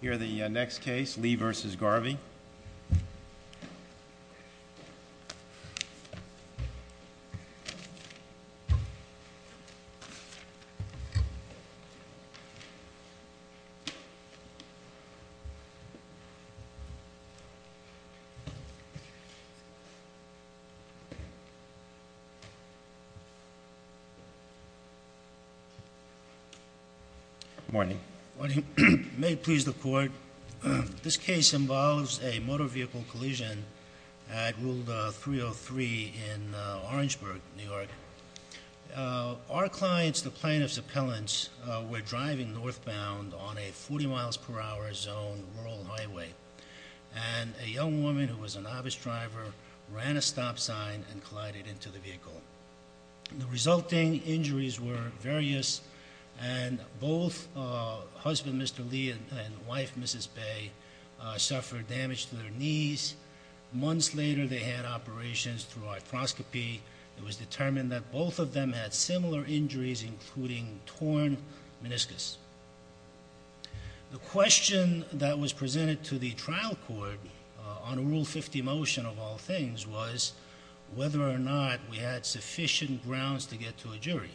Here the next case, Lee v. Garvey Good morning. Good morning. May it please the court. This case involves a motor vehicle collision at Wulda 303 in Orangeburg, New York. Our clients, the plaintiff's appellants, were driving northbound on a 40 mph zone rural highway, and a young woman who was a novice driver ran a stop sign and collided into the vehicle. The resulting injuries were various, and both husband, Mr. Lee, and wife, Mrs. Bae, suffered damage to their knees. Months later, they had operations through arthroscopy. It was determined that both of them had similar injuries, including torn meniscus. The question that was presented to the trial court on Rule 50 motion, of all things, was whether or not we had sufficient grounds to get to a jury.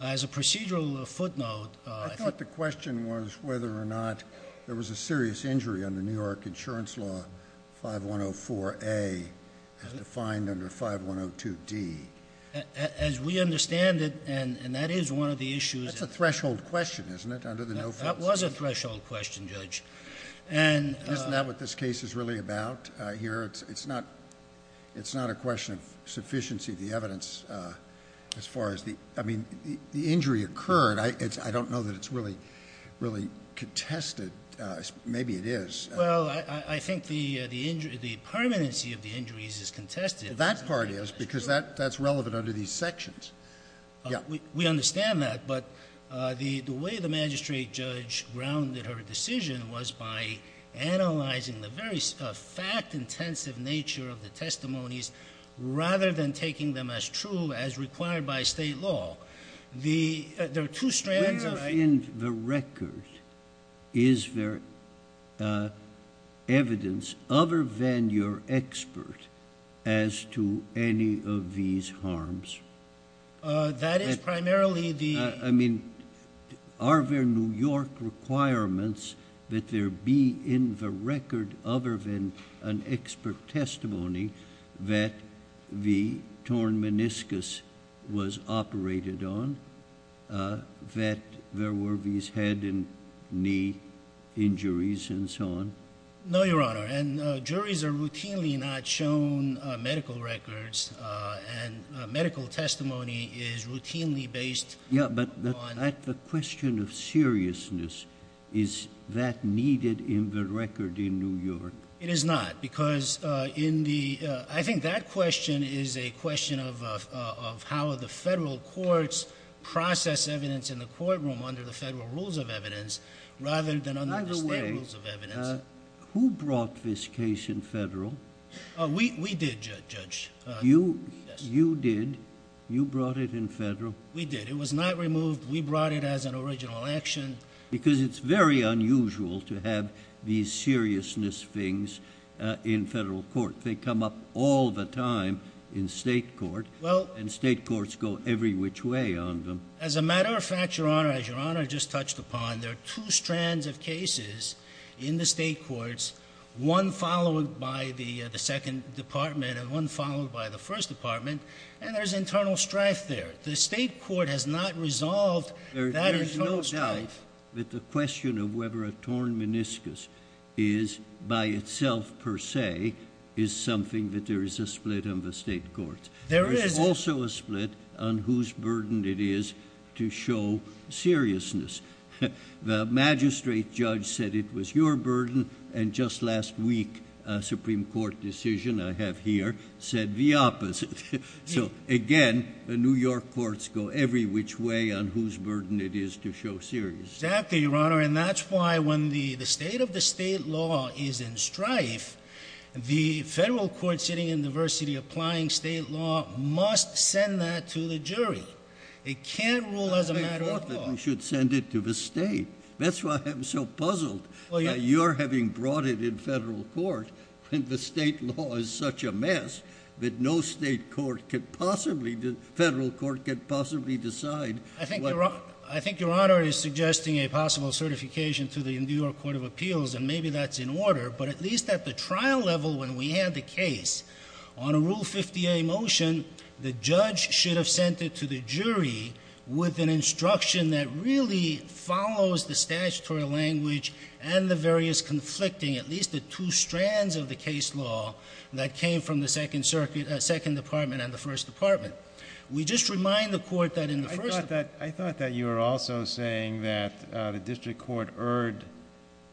As a procedural footnote, I thought the question was whether or not there was a serious injury under New York Insurance Law 5104A as defined under 5102D. As we understand it, and that is one of the issues That's a threshold question, isn't it? That was a threshold question, Judge. Isn't that what this case is really about here? It's not a question of sufficiency of the evidence as far as the injury occurred. I don't know that it's really contested. Maybe it is. Well, I think the permanency of the injuries is contested. That part is, because that's relevant under these sections. We understand that, but the way the magistrate judge grounded her decision was by analyzing the very fact-intensive nature of the testimonies rather than taking them as true as required by state law. There are two strands of- Where in the record is there evidence other than your expert as to any of these harms? That is primarily the- I mean, are there New York requirements that there be in the record other than an expert testimony that the torn meniscus was operated on, that there were these head and knee injuries, and so on? No, Your Honor. And juries are routinely not shown medical records, and medical testimony is routinely based on- Yeah, but at the question of seriousness, is that needed in the record in New York? It is not, because in the- I think that question is a question of how the federal courts process evidence in the courtroom under the federal rules of evidence rather than under the state rules of evidence. By the way, who brought this case in federal? We did, Judge. You did? You brought it in federal? We did. It was not removed. We brought it as an original action. Because it's very unusual to have these seriousness things in federal court. They come up all the time in state court, and state courts go every which way on them. As a matter of fact, Your Honor, as Your Honor just touched upon, there are two strands of cases in the state courts, one followed by the second department and one followed by the first department, and there's internal strife there. The state court has not resolved that internal strife. There is no doubt that the question of whether a torn meniscus is, by itself per se, is something that there is a split on the state courts. There is- There is a split on whose burden it is to show seriousness. The magistrate judge said it was your burden, and just last week, a Supreme Court decision I have here said the opposite. So, again, the New York courts go every which way on whose burden it is to show seriousness. Exactly, Your Honor, and that's why when the state of the state law is in strife, the federal court sitting in diversity applying state law must send that to the jury. It can't rule as a matter of law. I thought that we should send it to the state. That's why I'm so puzzled that you're having brought it in federal court, when the state law is such a mess that no state court could possibly- federal court could possibly decide- I think Your Honor is suggesting a possible certification to the New York Court of Appeals, and maybe that's in order, but at least at the trial level when we had the case, on a Rule 50A motion, the judge should have sent it to the jury with an instruction that really follows the statutory language and the various conflicting, at least the two strands of the case law that came from the Second Circuit- Second Department and the First Department. We just remind the court that in the First- I thought that you were also saying that the district court erred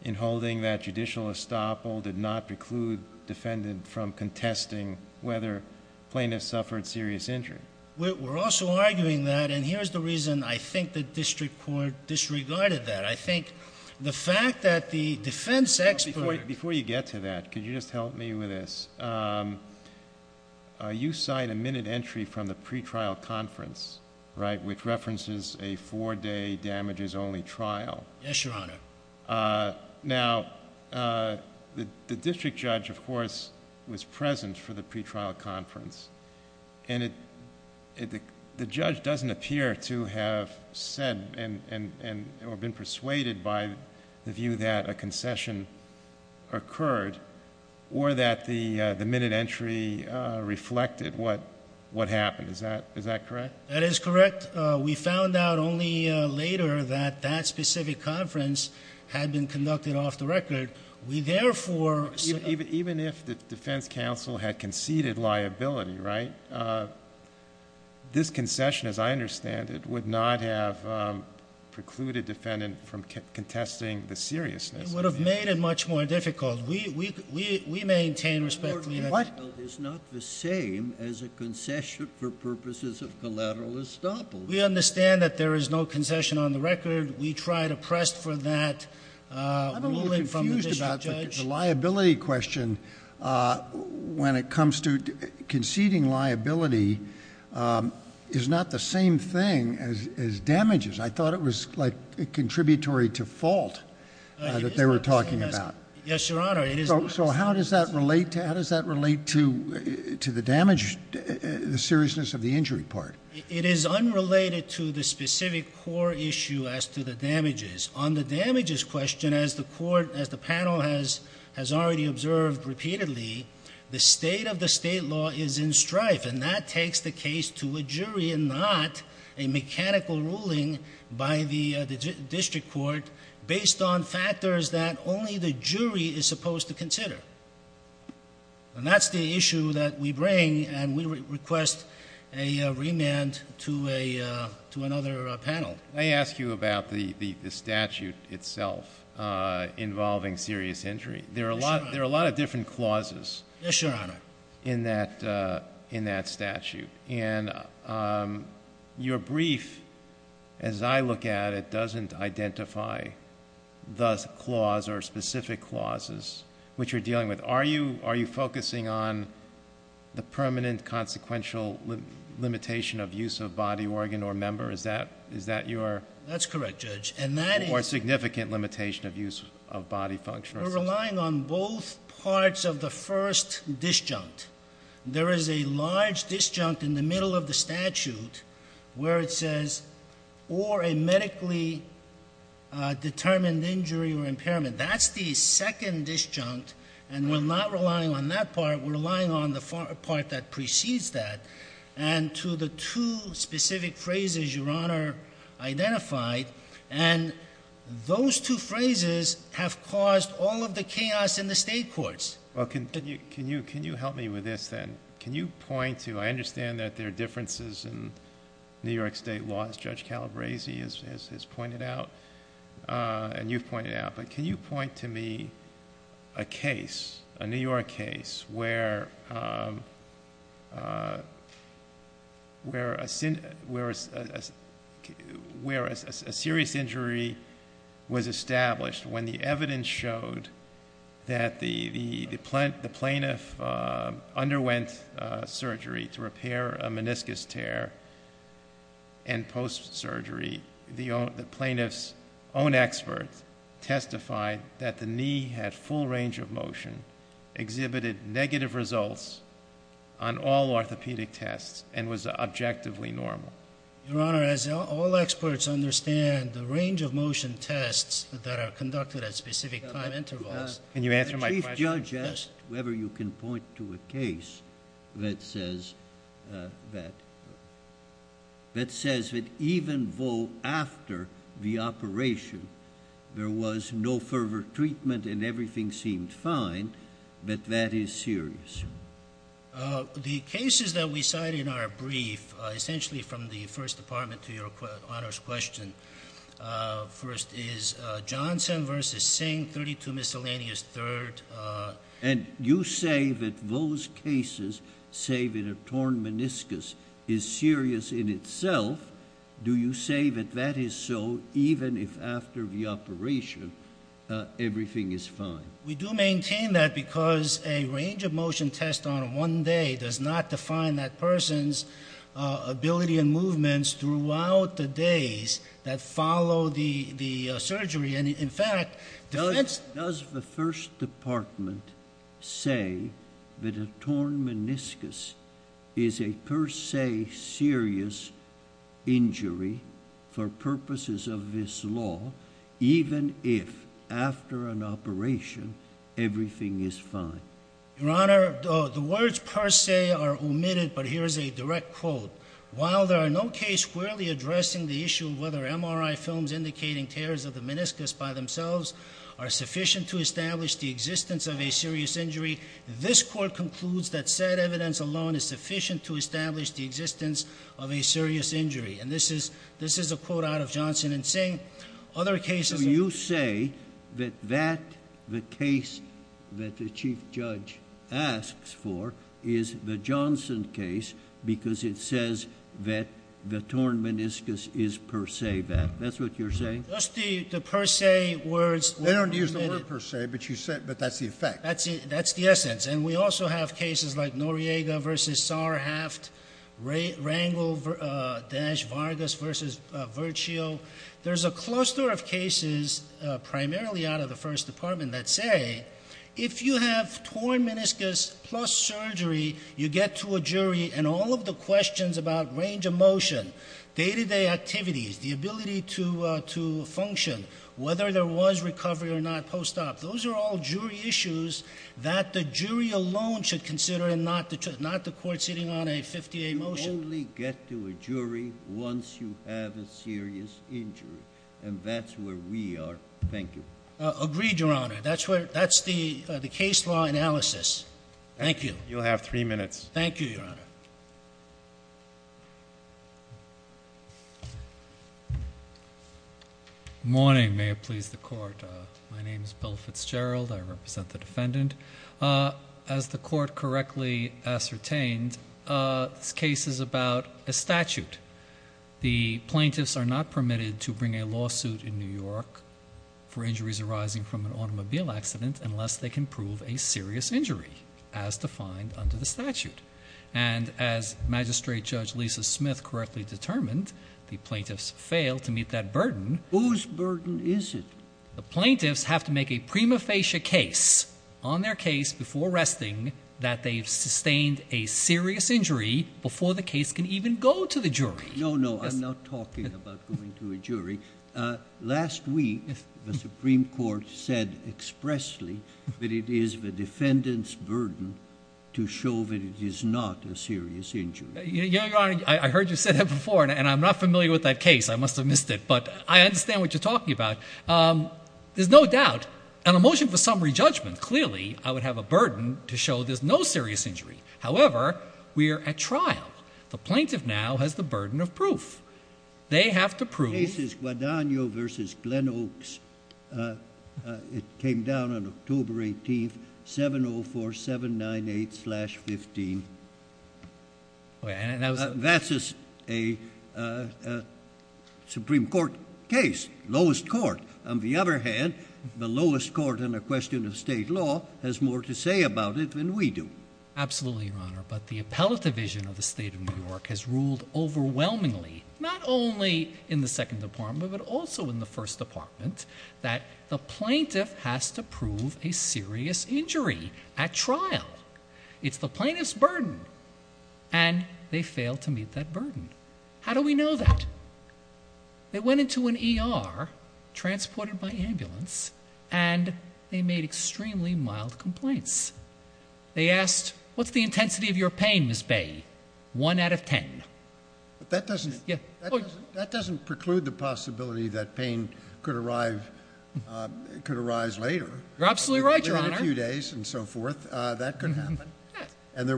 in holding that judicial estoppel did not preclude defendant from contesting whether plaintiff suffered serious injury. We're also arguing that, and here's the reason I think the district court disregarded that. I think the fact that the defense expert- Before you get to that, could you just help me with this? You cite a minute entry from the pretrial conference, right, which references a four-day damages-only trial. Yes, Your Honor. Now, the district judge, of course, was present for the pretrial conference, and the judge doesn't appear to have said or been persuaded by the view that a concession occurred or that the minute entry reflected what happened. Is that correct? That is correct. We found out only later that that specific conference had been conducted off the record. We therefore- Even if the defense counsel had conceded liability, right, this concession, as I understand it, would not have precluded defendant from contesting the seriousness. It would have made it much more difficult. We maintain respect- More difficult is not the same as a concession for purposes of collateral estoppel. We understand that there is no concession on the record. We tried to press for that ruling from the district judge. I'm a little confused about the liability question when it comes to conceding liability is not the same thing as damages. I thought it was like a contributory to fault that they were talking about. Yes, Your Honor. So how does that relate to the damage, the seriousness of the injury part? It is unrelated to the specific core issue as to the damages. On the damages question, as the panel has already observed repeatedly, the state of the state law is in strife, and that takes the case to a jury and not a mechanical ruling by the district court based on factors that only the jury is supposed to consider. And that's the issue that we bring, and we request a remand to another panel. May I ask you about the statute itself involving serious injury? There are a lot of different clauses- Yes, Your Honor. In that statute. And your brief, as I look at it, doesn't identify the clause or specific clauses which you're dealing with. Are you focusing on the permanent consequential limitation of use of body, organ, or member? Is that your- That's correct, Judge. Or significant limitation of use of body function or- We're relying on both parts of the first disjunct. There is a large disjunct in the middle of the statute where it says, or a medically determined injury or impairment. That's the second disjunct, and we're not relying on that part. We're relying on the part that precedes that. And to the two specific phrases Your Honor identified, and those two phrases have caused all of the chaos in the state courts. Well, can you help me with this then? Can you point to, I understand that there are differences in New York State laws, Judge Calabresi has pointed out, and you've pointed out. But can you point to me a case, a New York case, where a serious injury was established when the evidence showed that the plaintiff underwent surgery to repair a meniscus tear. And post-surgery, the plaintiff's own experts testified that the knee had full range of motion, exhibited negative results on all orthopedic tests, and was objectively normal. Your Honor, as all experts understand, the range of motion tests that are conducted at specific time intervals- Can you answer my question? The judge asked whether you can point to a case that says that even though after the operation there was no further treatment and everything seemed fine, that that is serious. The cases that we cite in our brief, essentially from the First Department to Your Honor's question, first is Johnson v. Singh, 32 miscellaneous, third- And you say that those cases, say that a torn meniscus is serious in itself, do you say that that is so even if after the operation everything is fine? We do maintain that because a range of motion test on one day does not define that person's ability and movements throughout the days that follow the surgery. Does the First Department say that a torn meniscus is a per se serious injury for purposes of this law even if after an operation everything is fine? Your Honor, the words per se are omitted, but here is a direct quote. While there are no case squarely addressing the issue of whether MRI films indicating tears of the meniscus by themselves are sufficient to establish the existence of a serious injury, this Court concludes that said evidence alone is sufficient to establish the existence of a serious injury. And this is a quote out of Johnson v. Singh. So you say that the case that the Chief Judge asks for is the Johnson case because it says that the torn meniscus is per se that. That's what you're saying? Just the per se words- They don't use the word per se, but that's the effect. That's the essence. And we also have cases like Noriega v. Sarhaft, Rangel-Vargas v. Virtio. There's a cluster of cases primarily out of the First Department that say if you have torn meniscus plus surgery, you get to a jury and all of the questions about range of motion, day-to-day activities, the ability to function, whether there was recovery or not post-op, those are all jury issues that the jury alone should consider and not the court sitting on a 58 motion. You only get to a jury once you have a serious injury, and that's where we are. Thank you. Agreed, Your Honor. That's the case law analysis. Thank you. You'll have three minutes. Thank you, Your Honor. Morning. May it please the court. My name is Bill Fitzgerald. I represent the defendant. As the court correctly ascertained, this case is about a statute. The plaintiffs are not permitted to bring a lawsuit in New York for injuries arising from an automobile accident unless they can prove a serious injury, as defined under the statute. And as Magistrate Judge Lisa Smith correctly determined, the plaintiffs fail to meet that burden. Whose burden is it? The plaintiffs have to make a prima facie case on their case before arresting that they've sustained a serious injury before the case can even go to the jury. No, no. I'm not talking about going to a jury. Last week, the Supreme Court said expressly that it is the defendant's burden to show that it is not a serious injury. Your Honor, I heard you say that before, and I'm not familiar with that case. I must have missed it. But I understand what you're talking about. There's no doubt, on a motion for summary judgment, clearly I would have a burden to show there's no serious injury. However, we are at trial. The plaintiff now has the burden of proof. They have to prove... The case is Guadagno v. Glenn Oaks. It came down on October 18th, 704798-15. That's a Supreme Court case, lowest court. On the other hand, the lowest court in a question of state law has more to say about it than we do. Absolutely, Your Honor. But the appellate division of the State of New York has ruled overwhelmingly, not only in the Second Department, but also in the First Department, that the plaintiff has to prove a serious injury at trial. It's the plaintiff's burden. And they failed to meet that burden. How do we know that? They went into an ER, transported by ambulance, and they made extremely mild complaints. They asked, what's the intensity of your pain, Ms. Bay? One out of ten. That doesn't preclude the possibility that pain could arise later. You're absolutely right, Your Honor. In a few days and so forth, that could happen. And the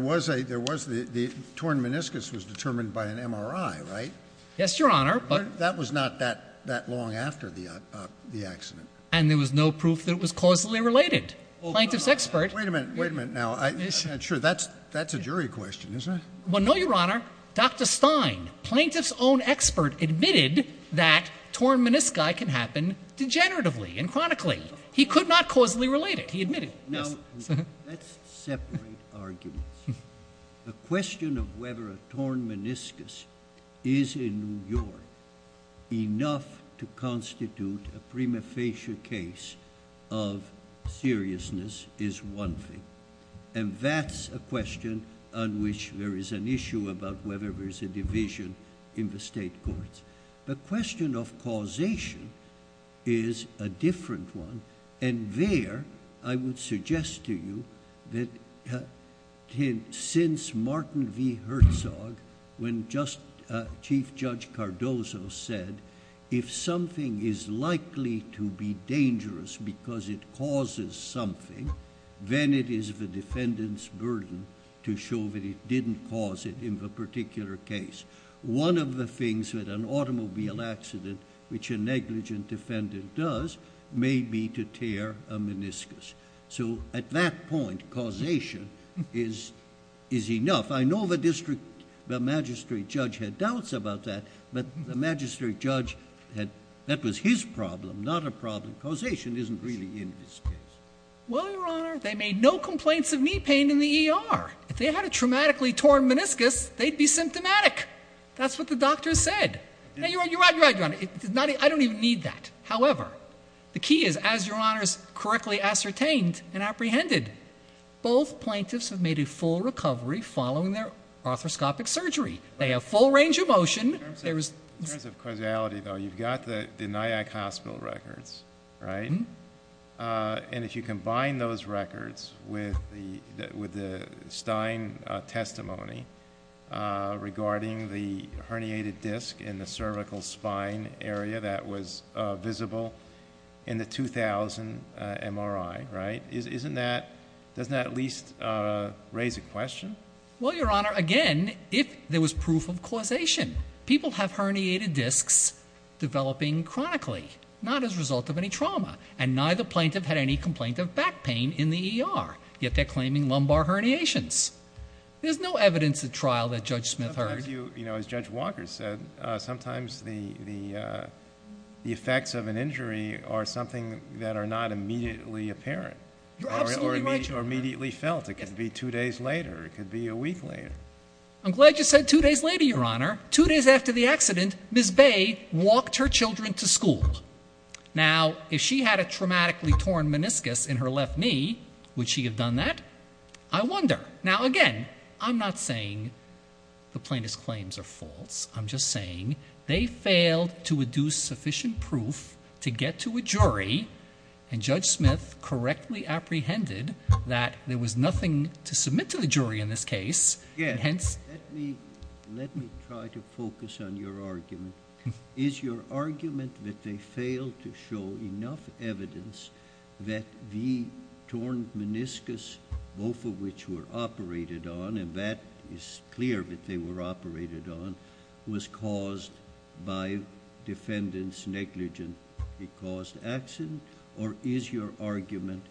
torn meniscus was determined by an MRI, right? Yes, Your Honor. That was not that long after the accident. And there was no proof that it was causally related. Plaintiff's expert. Wait a minute. Wait a minute now. That's a jury question, isn't it? No, Your Honor. Dr. Stein, plaintiff's own expert, admitted that torn menisci can happen degeneratively and chronically. He could not causally relate it. He admitted it. Now, let's separate arguments. The question of whether a torn meniscus is in New York enough to constitute a prima facie case of seriousness is one thing. And that's a question on which there is an issue about whether there's a division in the state courts. The question of causation is a different one. And there, I would suggest to you that since Martin V. Herzog, when Chief Judge Cardozo said, if something is likely to be dangerous because it causes something, then it is the defendant's burden to show that it didn't cause it in the particular case. One of the things that an automobile accident, which a negligent defendant does, may be to tear a meniscus. So at that point, causation is enough. I know the magistrate judge had doubts about that, but the magistrate judge, that was his problem, not a problem. Causation isn't really in this case. Well, Your Honor, they made no complaints of knee pain in the ER. If they had a traumatically torn meniscus, they'd be symptomatic. That's what the doctor said. You're right, Your Honor. I don't even need that. However, the key is, as Your Honor has correctly ascertained and apprehended, both plaintiffs have made a full recovery following their arthroscopic surgery. They have full range of motion. In terms of causality, though, you've got the Nyack Hospital records, right? And if you combine those records with the Stein testimony regarding the herniated disc in the cervical spine area that was visible in the 2000 MRI, doesn't that at least raise a question? Well, Your Honor, again, if there was proof of causation. People have herniated discs developing chronically, not as a result of any trauma, and neither plaintiff had any complaint of back pain in the ER, yet they're claiming lumbar herniations. There's no evidence at trial that Judge Smith heard. As Judge Walker said, sometimes the effects of an injury are something that are not immediately apparent. You're absolutely right, Your Honor. Or immediately felt. It could be two days later. It could be a week later. I'm glad you said two days later, Your Honor. Two days after the accident, Ms. Bay walked her children to school. Now, if she had a traumatically torn meniscus in her left knee, would she have done that? I wonder. Now, again, I'm not saying the plaintiff's claims are false. I'm just saying they failed to deduce sufficient proof to get to a jury, and Judge Smith correctly apprehended that there was nothing to submit to the jury in this case. Let me try to focus on your argument. Is your argument that they failed to show enough evidence that the torn meniscus, both of which were operated on, and that is clear that they were operated on, was caused by defendant's negligent caused accident, or is your argument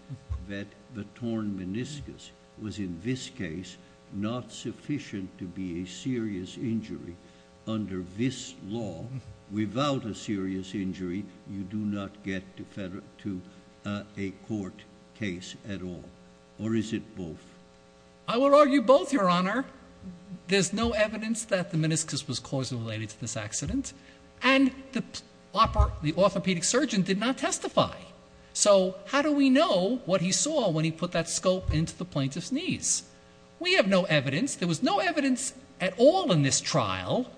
that the torn meniscus was, in this case, not sufficient to be a serious injury? Under this law, without a serious injury, you do not get to a court case at all. Or is it both? I would argue both, Your Honor. There's no evidence that the meniscus was causally related to this accident, and the orthopedic surgeon did not testify. So how do we know what he saw when he put that scope into the plaintiff's knees? We have no evidence. There was no evidence at all in this trial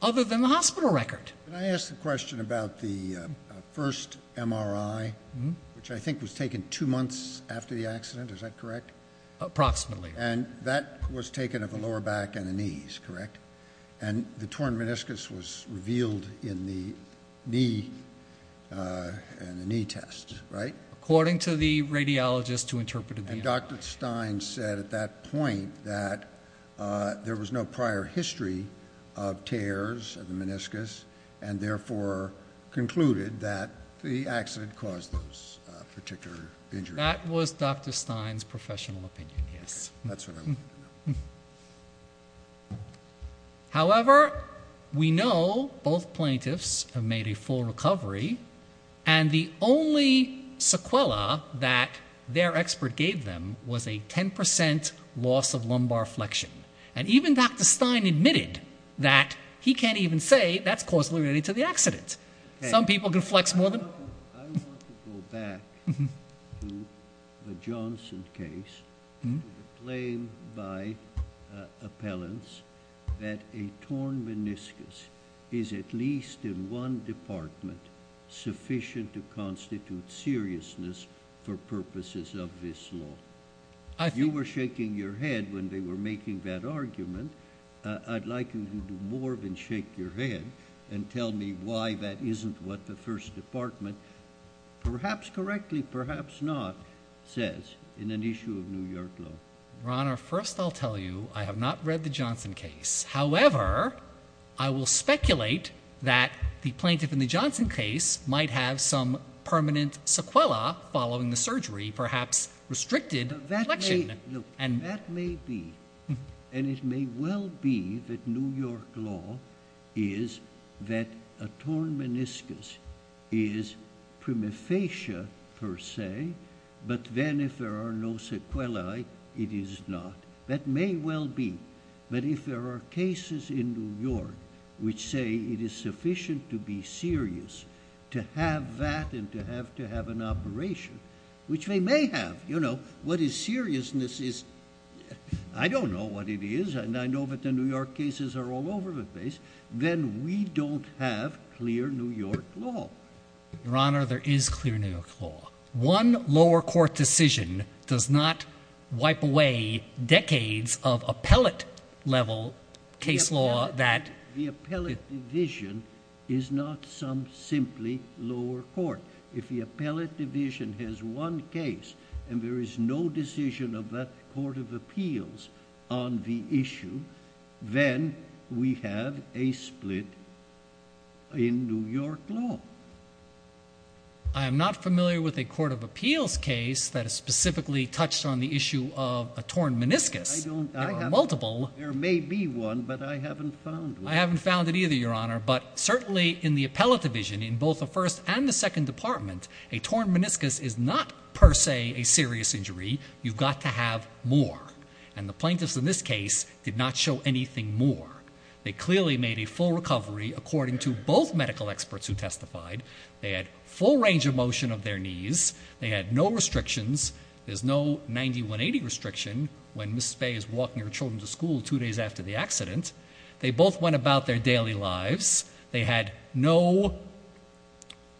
other than the hospital record. Can I ask a question about the first MRI, which I think was taken two months after the accident. Is that correct? Approximately. And that was taken of the lower back and the knees, correct? And the torn meniscus was revealed in the knee test, right? According to the radiologist who interpreted the MRI. And Dr. Stein said at that point that there was no prior history of tears of the meniscus, and therefore concluded that the accident caused those particular injuries. That was Dr. Stein's professional opinion, yes. That's what I want to know. However, we know both plaintiffs have made a full recovery, and the only sequela that their expert gave them was a 10% loss of lumbar flexion. And even Dr. Stein admitted that he can't even say that's causally related to the accident. Some people can flex more than... I want to go back to the Johnson case and to the claim by appellants that a torn meniscus is at least in one department sufficient to constitute seriousness for purposes of this law. If you were shaking your head when they were making that argument, I'd like you to do more than shake your head and tell me why that isn't what the First Department, perhaps correctly, perhaps not, says in an issue of New York law. Your Honor, first I'll tell you I have not read the Johnson case. However, I will speculate that the plaintiff in the Johnson case might have some permanent sequela following the surgery, perhaps restricted flexion. That may be. And it may well be that New York law is that a torn meniscus is prima facie per se, but then if there are no sequelae, it is not. That may well be. But if there are cases in New York which say it is sufficient to be serious to have that and to have to have an operation, which they may have, you know, what is seriousness is, I don't know what it is, and I know that the New York cases are all over the place, then we don't have clear New York law. Your Honor, there is clear New York law. One lower court decision does not wipe away decades of appellate-level case law that... ...appellate division is not some simply lower court. If the appellate division has one case and there is no decision of that court of appeals on the issue, then we have a split in New York law. I am not familiar with a court of appeals case that specifically touched on the issue of a torn meniscus. I don't... There are multiple. There may be one, but I haven't found one. I haven't found it either, Your Honor, but certainly in the appellate division, in both the first and the second department, a torn meniscus is not per se a serious injury. You've got to have more. And the plaintiffs in this case did not show anything more. They clearly made a full recovery according to both medical experts who testified. They had full range of motion of their knees. They had no restrictions. There's no 90-180 restriction when Ms. Spey is walking her children to school two days after the accident. They both went about their daily lives. They had no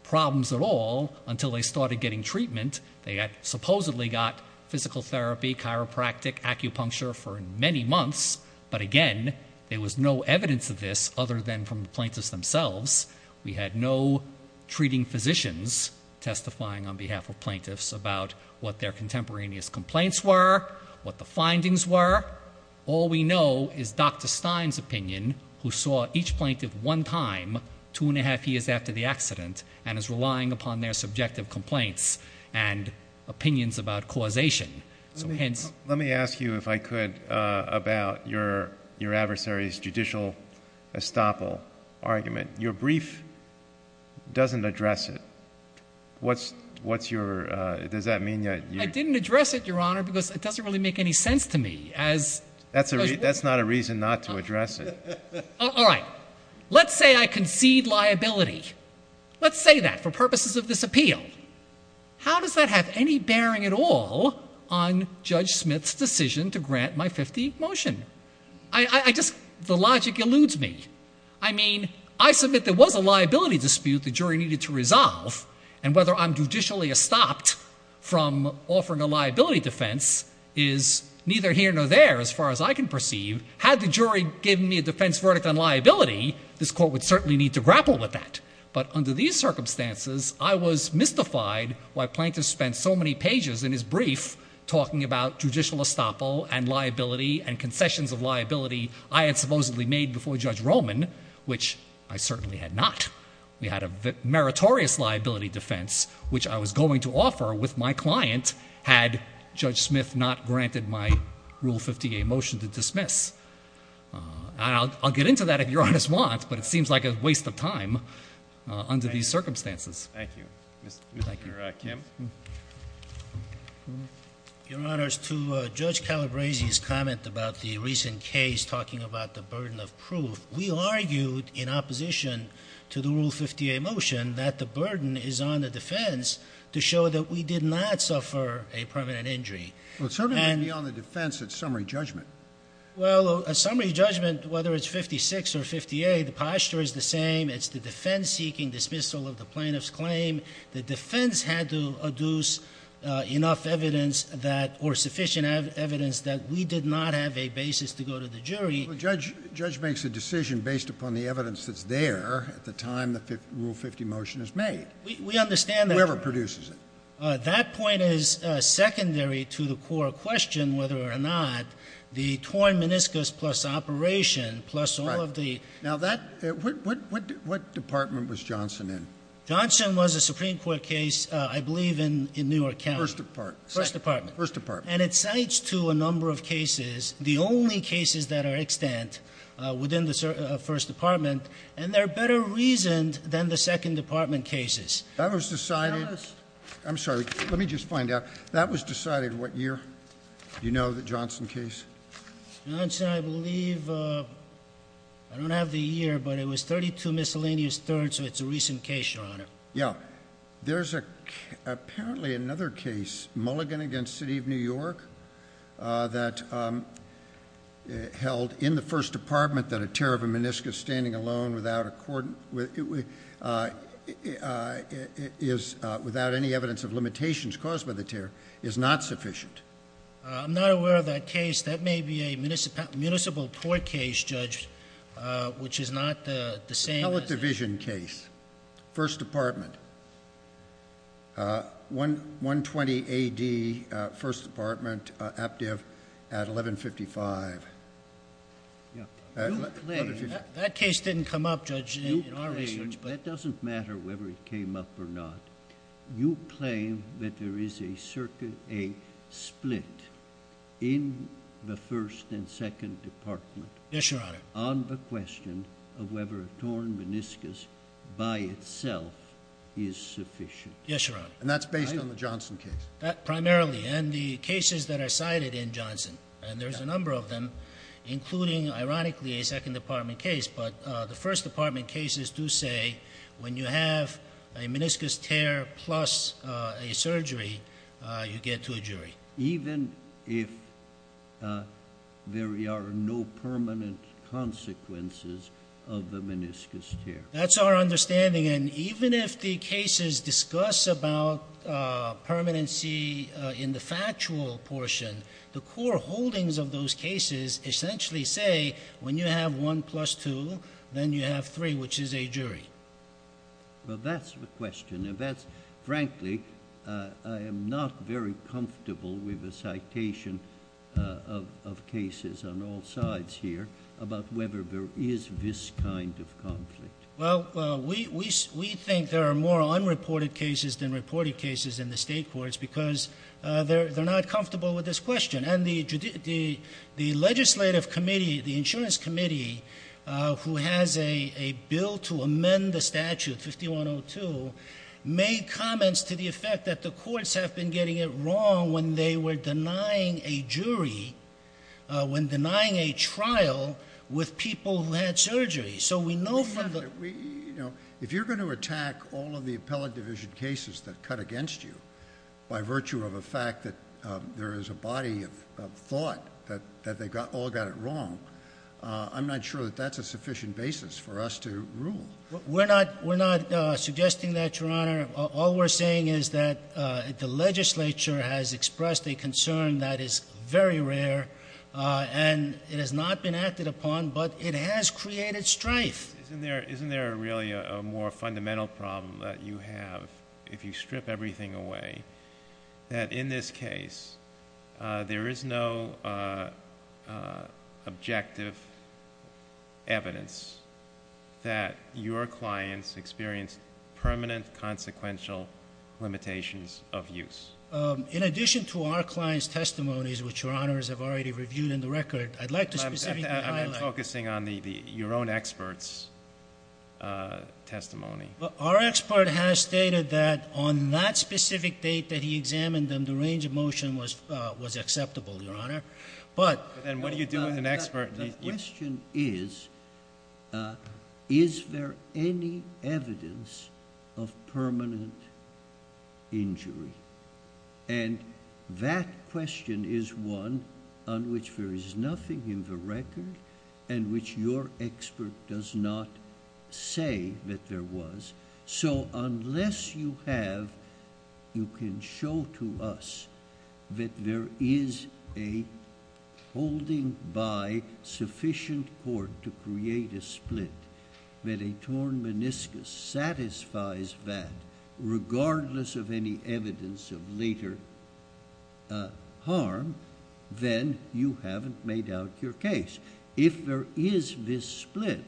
problems at all until they started getting treatment. They had supposedly got physical therapy, chiropractic, acupuncture for many months, but, again, there was no evidence of this other than from the plaintiffs themselves. We had no treating physicians testifying on behalf of plaintiffs about what their contemporaneous complaints were, what the findings were. All we know is Dr. Stein's opinion, who saw each plaintiff one time two and a half years after the accident and is relying upon their subjective complaints and opinions about causation. So, hence. Let me ask you, if I could, about your adversary's judicial estoppel argument. Your brief doesn't address it. What's your does that mean? I didn't address it, Your Honor, because it doesn't really make any sense to me. That's not a reason not to address it. All right. Let's say I concede liability. Let's say that for purposes of this appeal. How does that have any bearing at all on Judge Smith's decision to grant my 50 motion? The logic eludes me. I mean, I submit there was a liability dispute the jury needed to resolve, and whether I'm judicially estopped from offering a liability defense is neither here nor there as far as I can perceive. Had the jury given me a defense verdict on liability, this court would certainly need to grapple with that. But under these circumstances, I was mystified why plaintiffs spent so many pages in his brief talking about judicial estoppel and liability and concessions of liability I had supposedly made before Judge Roman, which I certainly had not. We had a meritorious liability defense, which I was going to offer with my client, had Judge Smith not granted my Rule 50A motion to dismiss. I'll get into that if Your Honor wants, but it seems like a waste of time under these circumstances. Thank you. Mr. Kim. Your Honors, to Judge Calabresi's comment about the recent case talking about the burden of proof, we argued in opposition to the Rule 50A motion that the burden is on the defense to show that we did not suffer a permanent injury. Well, it certainly wouldn't be on the defense. It's summary judgment. Well, a summary judgment, whether it's 56 or 50A, the posture is the same. It's the defense seeking dismissal of the plaintiff's claim. The defense had to adduce enough evidence or sufficient evidence that we did not have a basis to go to the jury. Well, the judge makes a decision based upon the evidence that's there at the time the Rule 50 motion is made. We understand that. Whoever produces it. That point is secondary to the core question whether or not the torn meniscus plus operation plus all of the— Right. Now, what department was Johnson in? Johnson was a Supreme Court case, I believe, in Newark County. First department. First department. First department. And it cites to a number of cases the only cases that are extant within the first department, and they're better reasoned than the second department cases. That was decided— Tell us. I'm sorry. Let me just find out. That was decided what year? Do you know the Johnson case? Johnson, I believe—I don't have the year, but it was 32 miscellaneous thirds, so it's a recent case, Your Honor. Yeah. There's apparently another case, Mulligan v. City of New York, that held in the first department that a tear of a meniscus standing alone without any evidence of limitations caused by the tear is not sufficient. I'm not aware of that case. That may be a municipal court case, Judge, which is not the same as— First department. 120 A.D., first department, active at 1155. You claim— That case didn't come up, Judge, in our research, but— You claim—it doesn't matter whether it came up or not. You claim that there is a split in the first and second department— Yes, Your Honor. —on the question of whether a torn meniscus by itself is sufficient. Yes, Your Honor. And that's based on the Johnson case? Primarily, and the cases that are cited in Johnson, and there's a number of them, including, ironically, a second department case. But the first department cases do say when you have a meniscus tear plus a surgery, you get to a jury. Even if there are no permanent consequences of the meniscus tear. That's our understanding, and even if the cases discuss about permanency in the factual portion, the core holdings of those cases essentially say when you have one plus two, then you have three, which is a jury. Well, that's the question. And that's—frankly, I am not very comfortable with the citation of cases on all sides here about whether there is this kind of conflict. Well, we think there are more unreported cases than reported cases in the state courts because they're not comfortable with this question. And the legislative committee, the insurance committee, who has a bill to amend the statute, 5102, made comments to the effect that the courts have been getting it wrong when they were denying a jury, when denying a trial with people who had surgery. If you're going to attack all of the appellate division cases that cut against you by virtue of a fact that there is a body of thought that they all got it wrong, I'm not sure that that's a sufficient basis for us to rule. We're not suggesting that, Your Honor. All we're saying is that the legislature has expressed a concern that is very rare, and it has not been acted upon, but it has created strife. Isn't there really a more fundamental problem that you have if you strip everything away, that in this case there is no objective evidence that your clients experienced permanent, consequential limitations of use? In addition to our client's testimonies, which Your Honors have already reviewed in the record, I'd like to specifically highlight— I'm focusing on your own expert's testimony. Our expert has stated that on that specific date that he examined them, the range of motion was acceptable, Your Honor, but— Then what do you do with an expert? The question is, is there any evidence of permanent injury? That question is one on which there is nothing in the record and which your expert does not say that there was. So unless you have—you can show to us that there is a holding by sufficient court to create a split, that a torn meniscus satisfies that regardless of any evidence of later harm, then you haven't made out your case. If there is this split,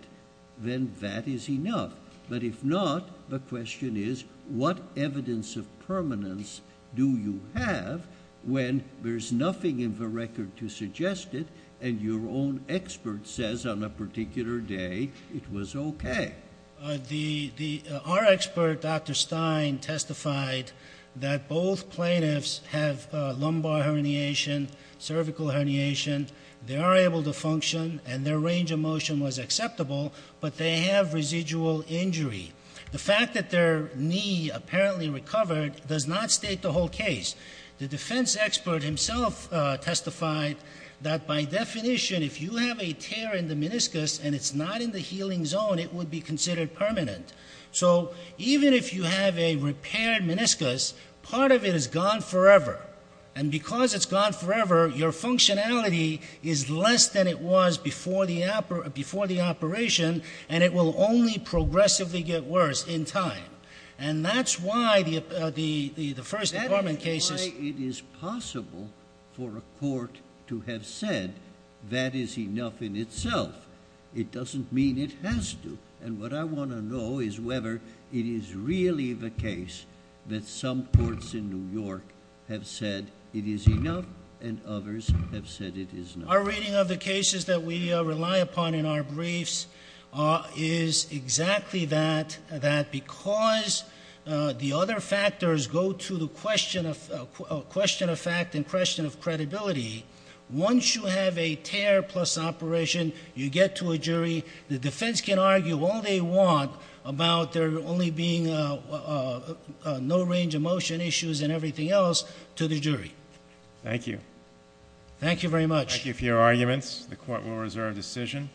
then that is enough. But if not, the question is, what evidence of permanence do you have when there is nothing in the record to suggest it and your own expert says on a particular day it was okay? Our expert, Dr. Stein, testified that both plaintiffs have lumbar herniation, cervical herniation. They are able to function and their range of motion was acceptable, but they have residual injury. The fact that their knee apparently recovered does not state the whole case. The defense expert himself testified that by definition, if you have a tear in the meniscus and it's not in the healing zone, it would be considered permanent. So even if you have a repaired meniscus, part of it is gone forever. And because it's gone forever, your functionality is less than it was before the operation, and it will only progressively get worse in time. And that's why the First Department cases... That is why it is possible for a court to have said that is enough in itself. It doesn't mean it has to. And what I want to know is whether it is really the case that some courts in New York have said it is enough and others have said it is not. Our reading of the cases that we rely upon in our briefs is exactly that, that because the other factors go to the question of fact and question of credibility, once you have a tear plus operation, you get to a jury. The defense can argue all they want about there only being no range of motion issues and everything else to the jury. Thank you. Thank you very much. Thank you for your arguments. The court will reserve decision.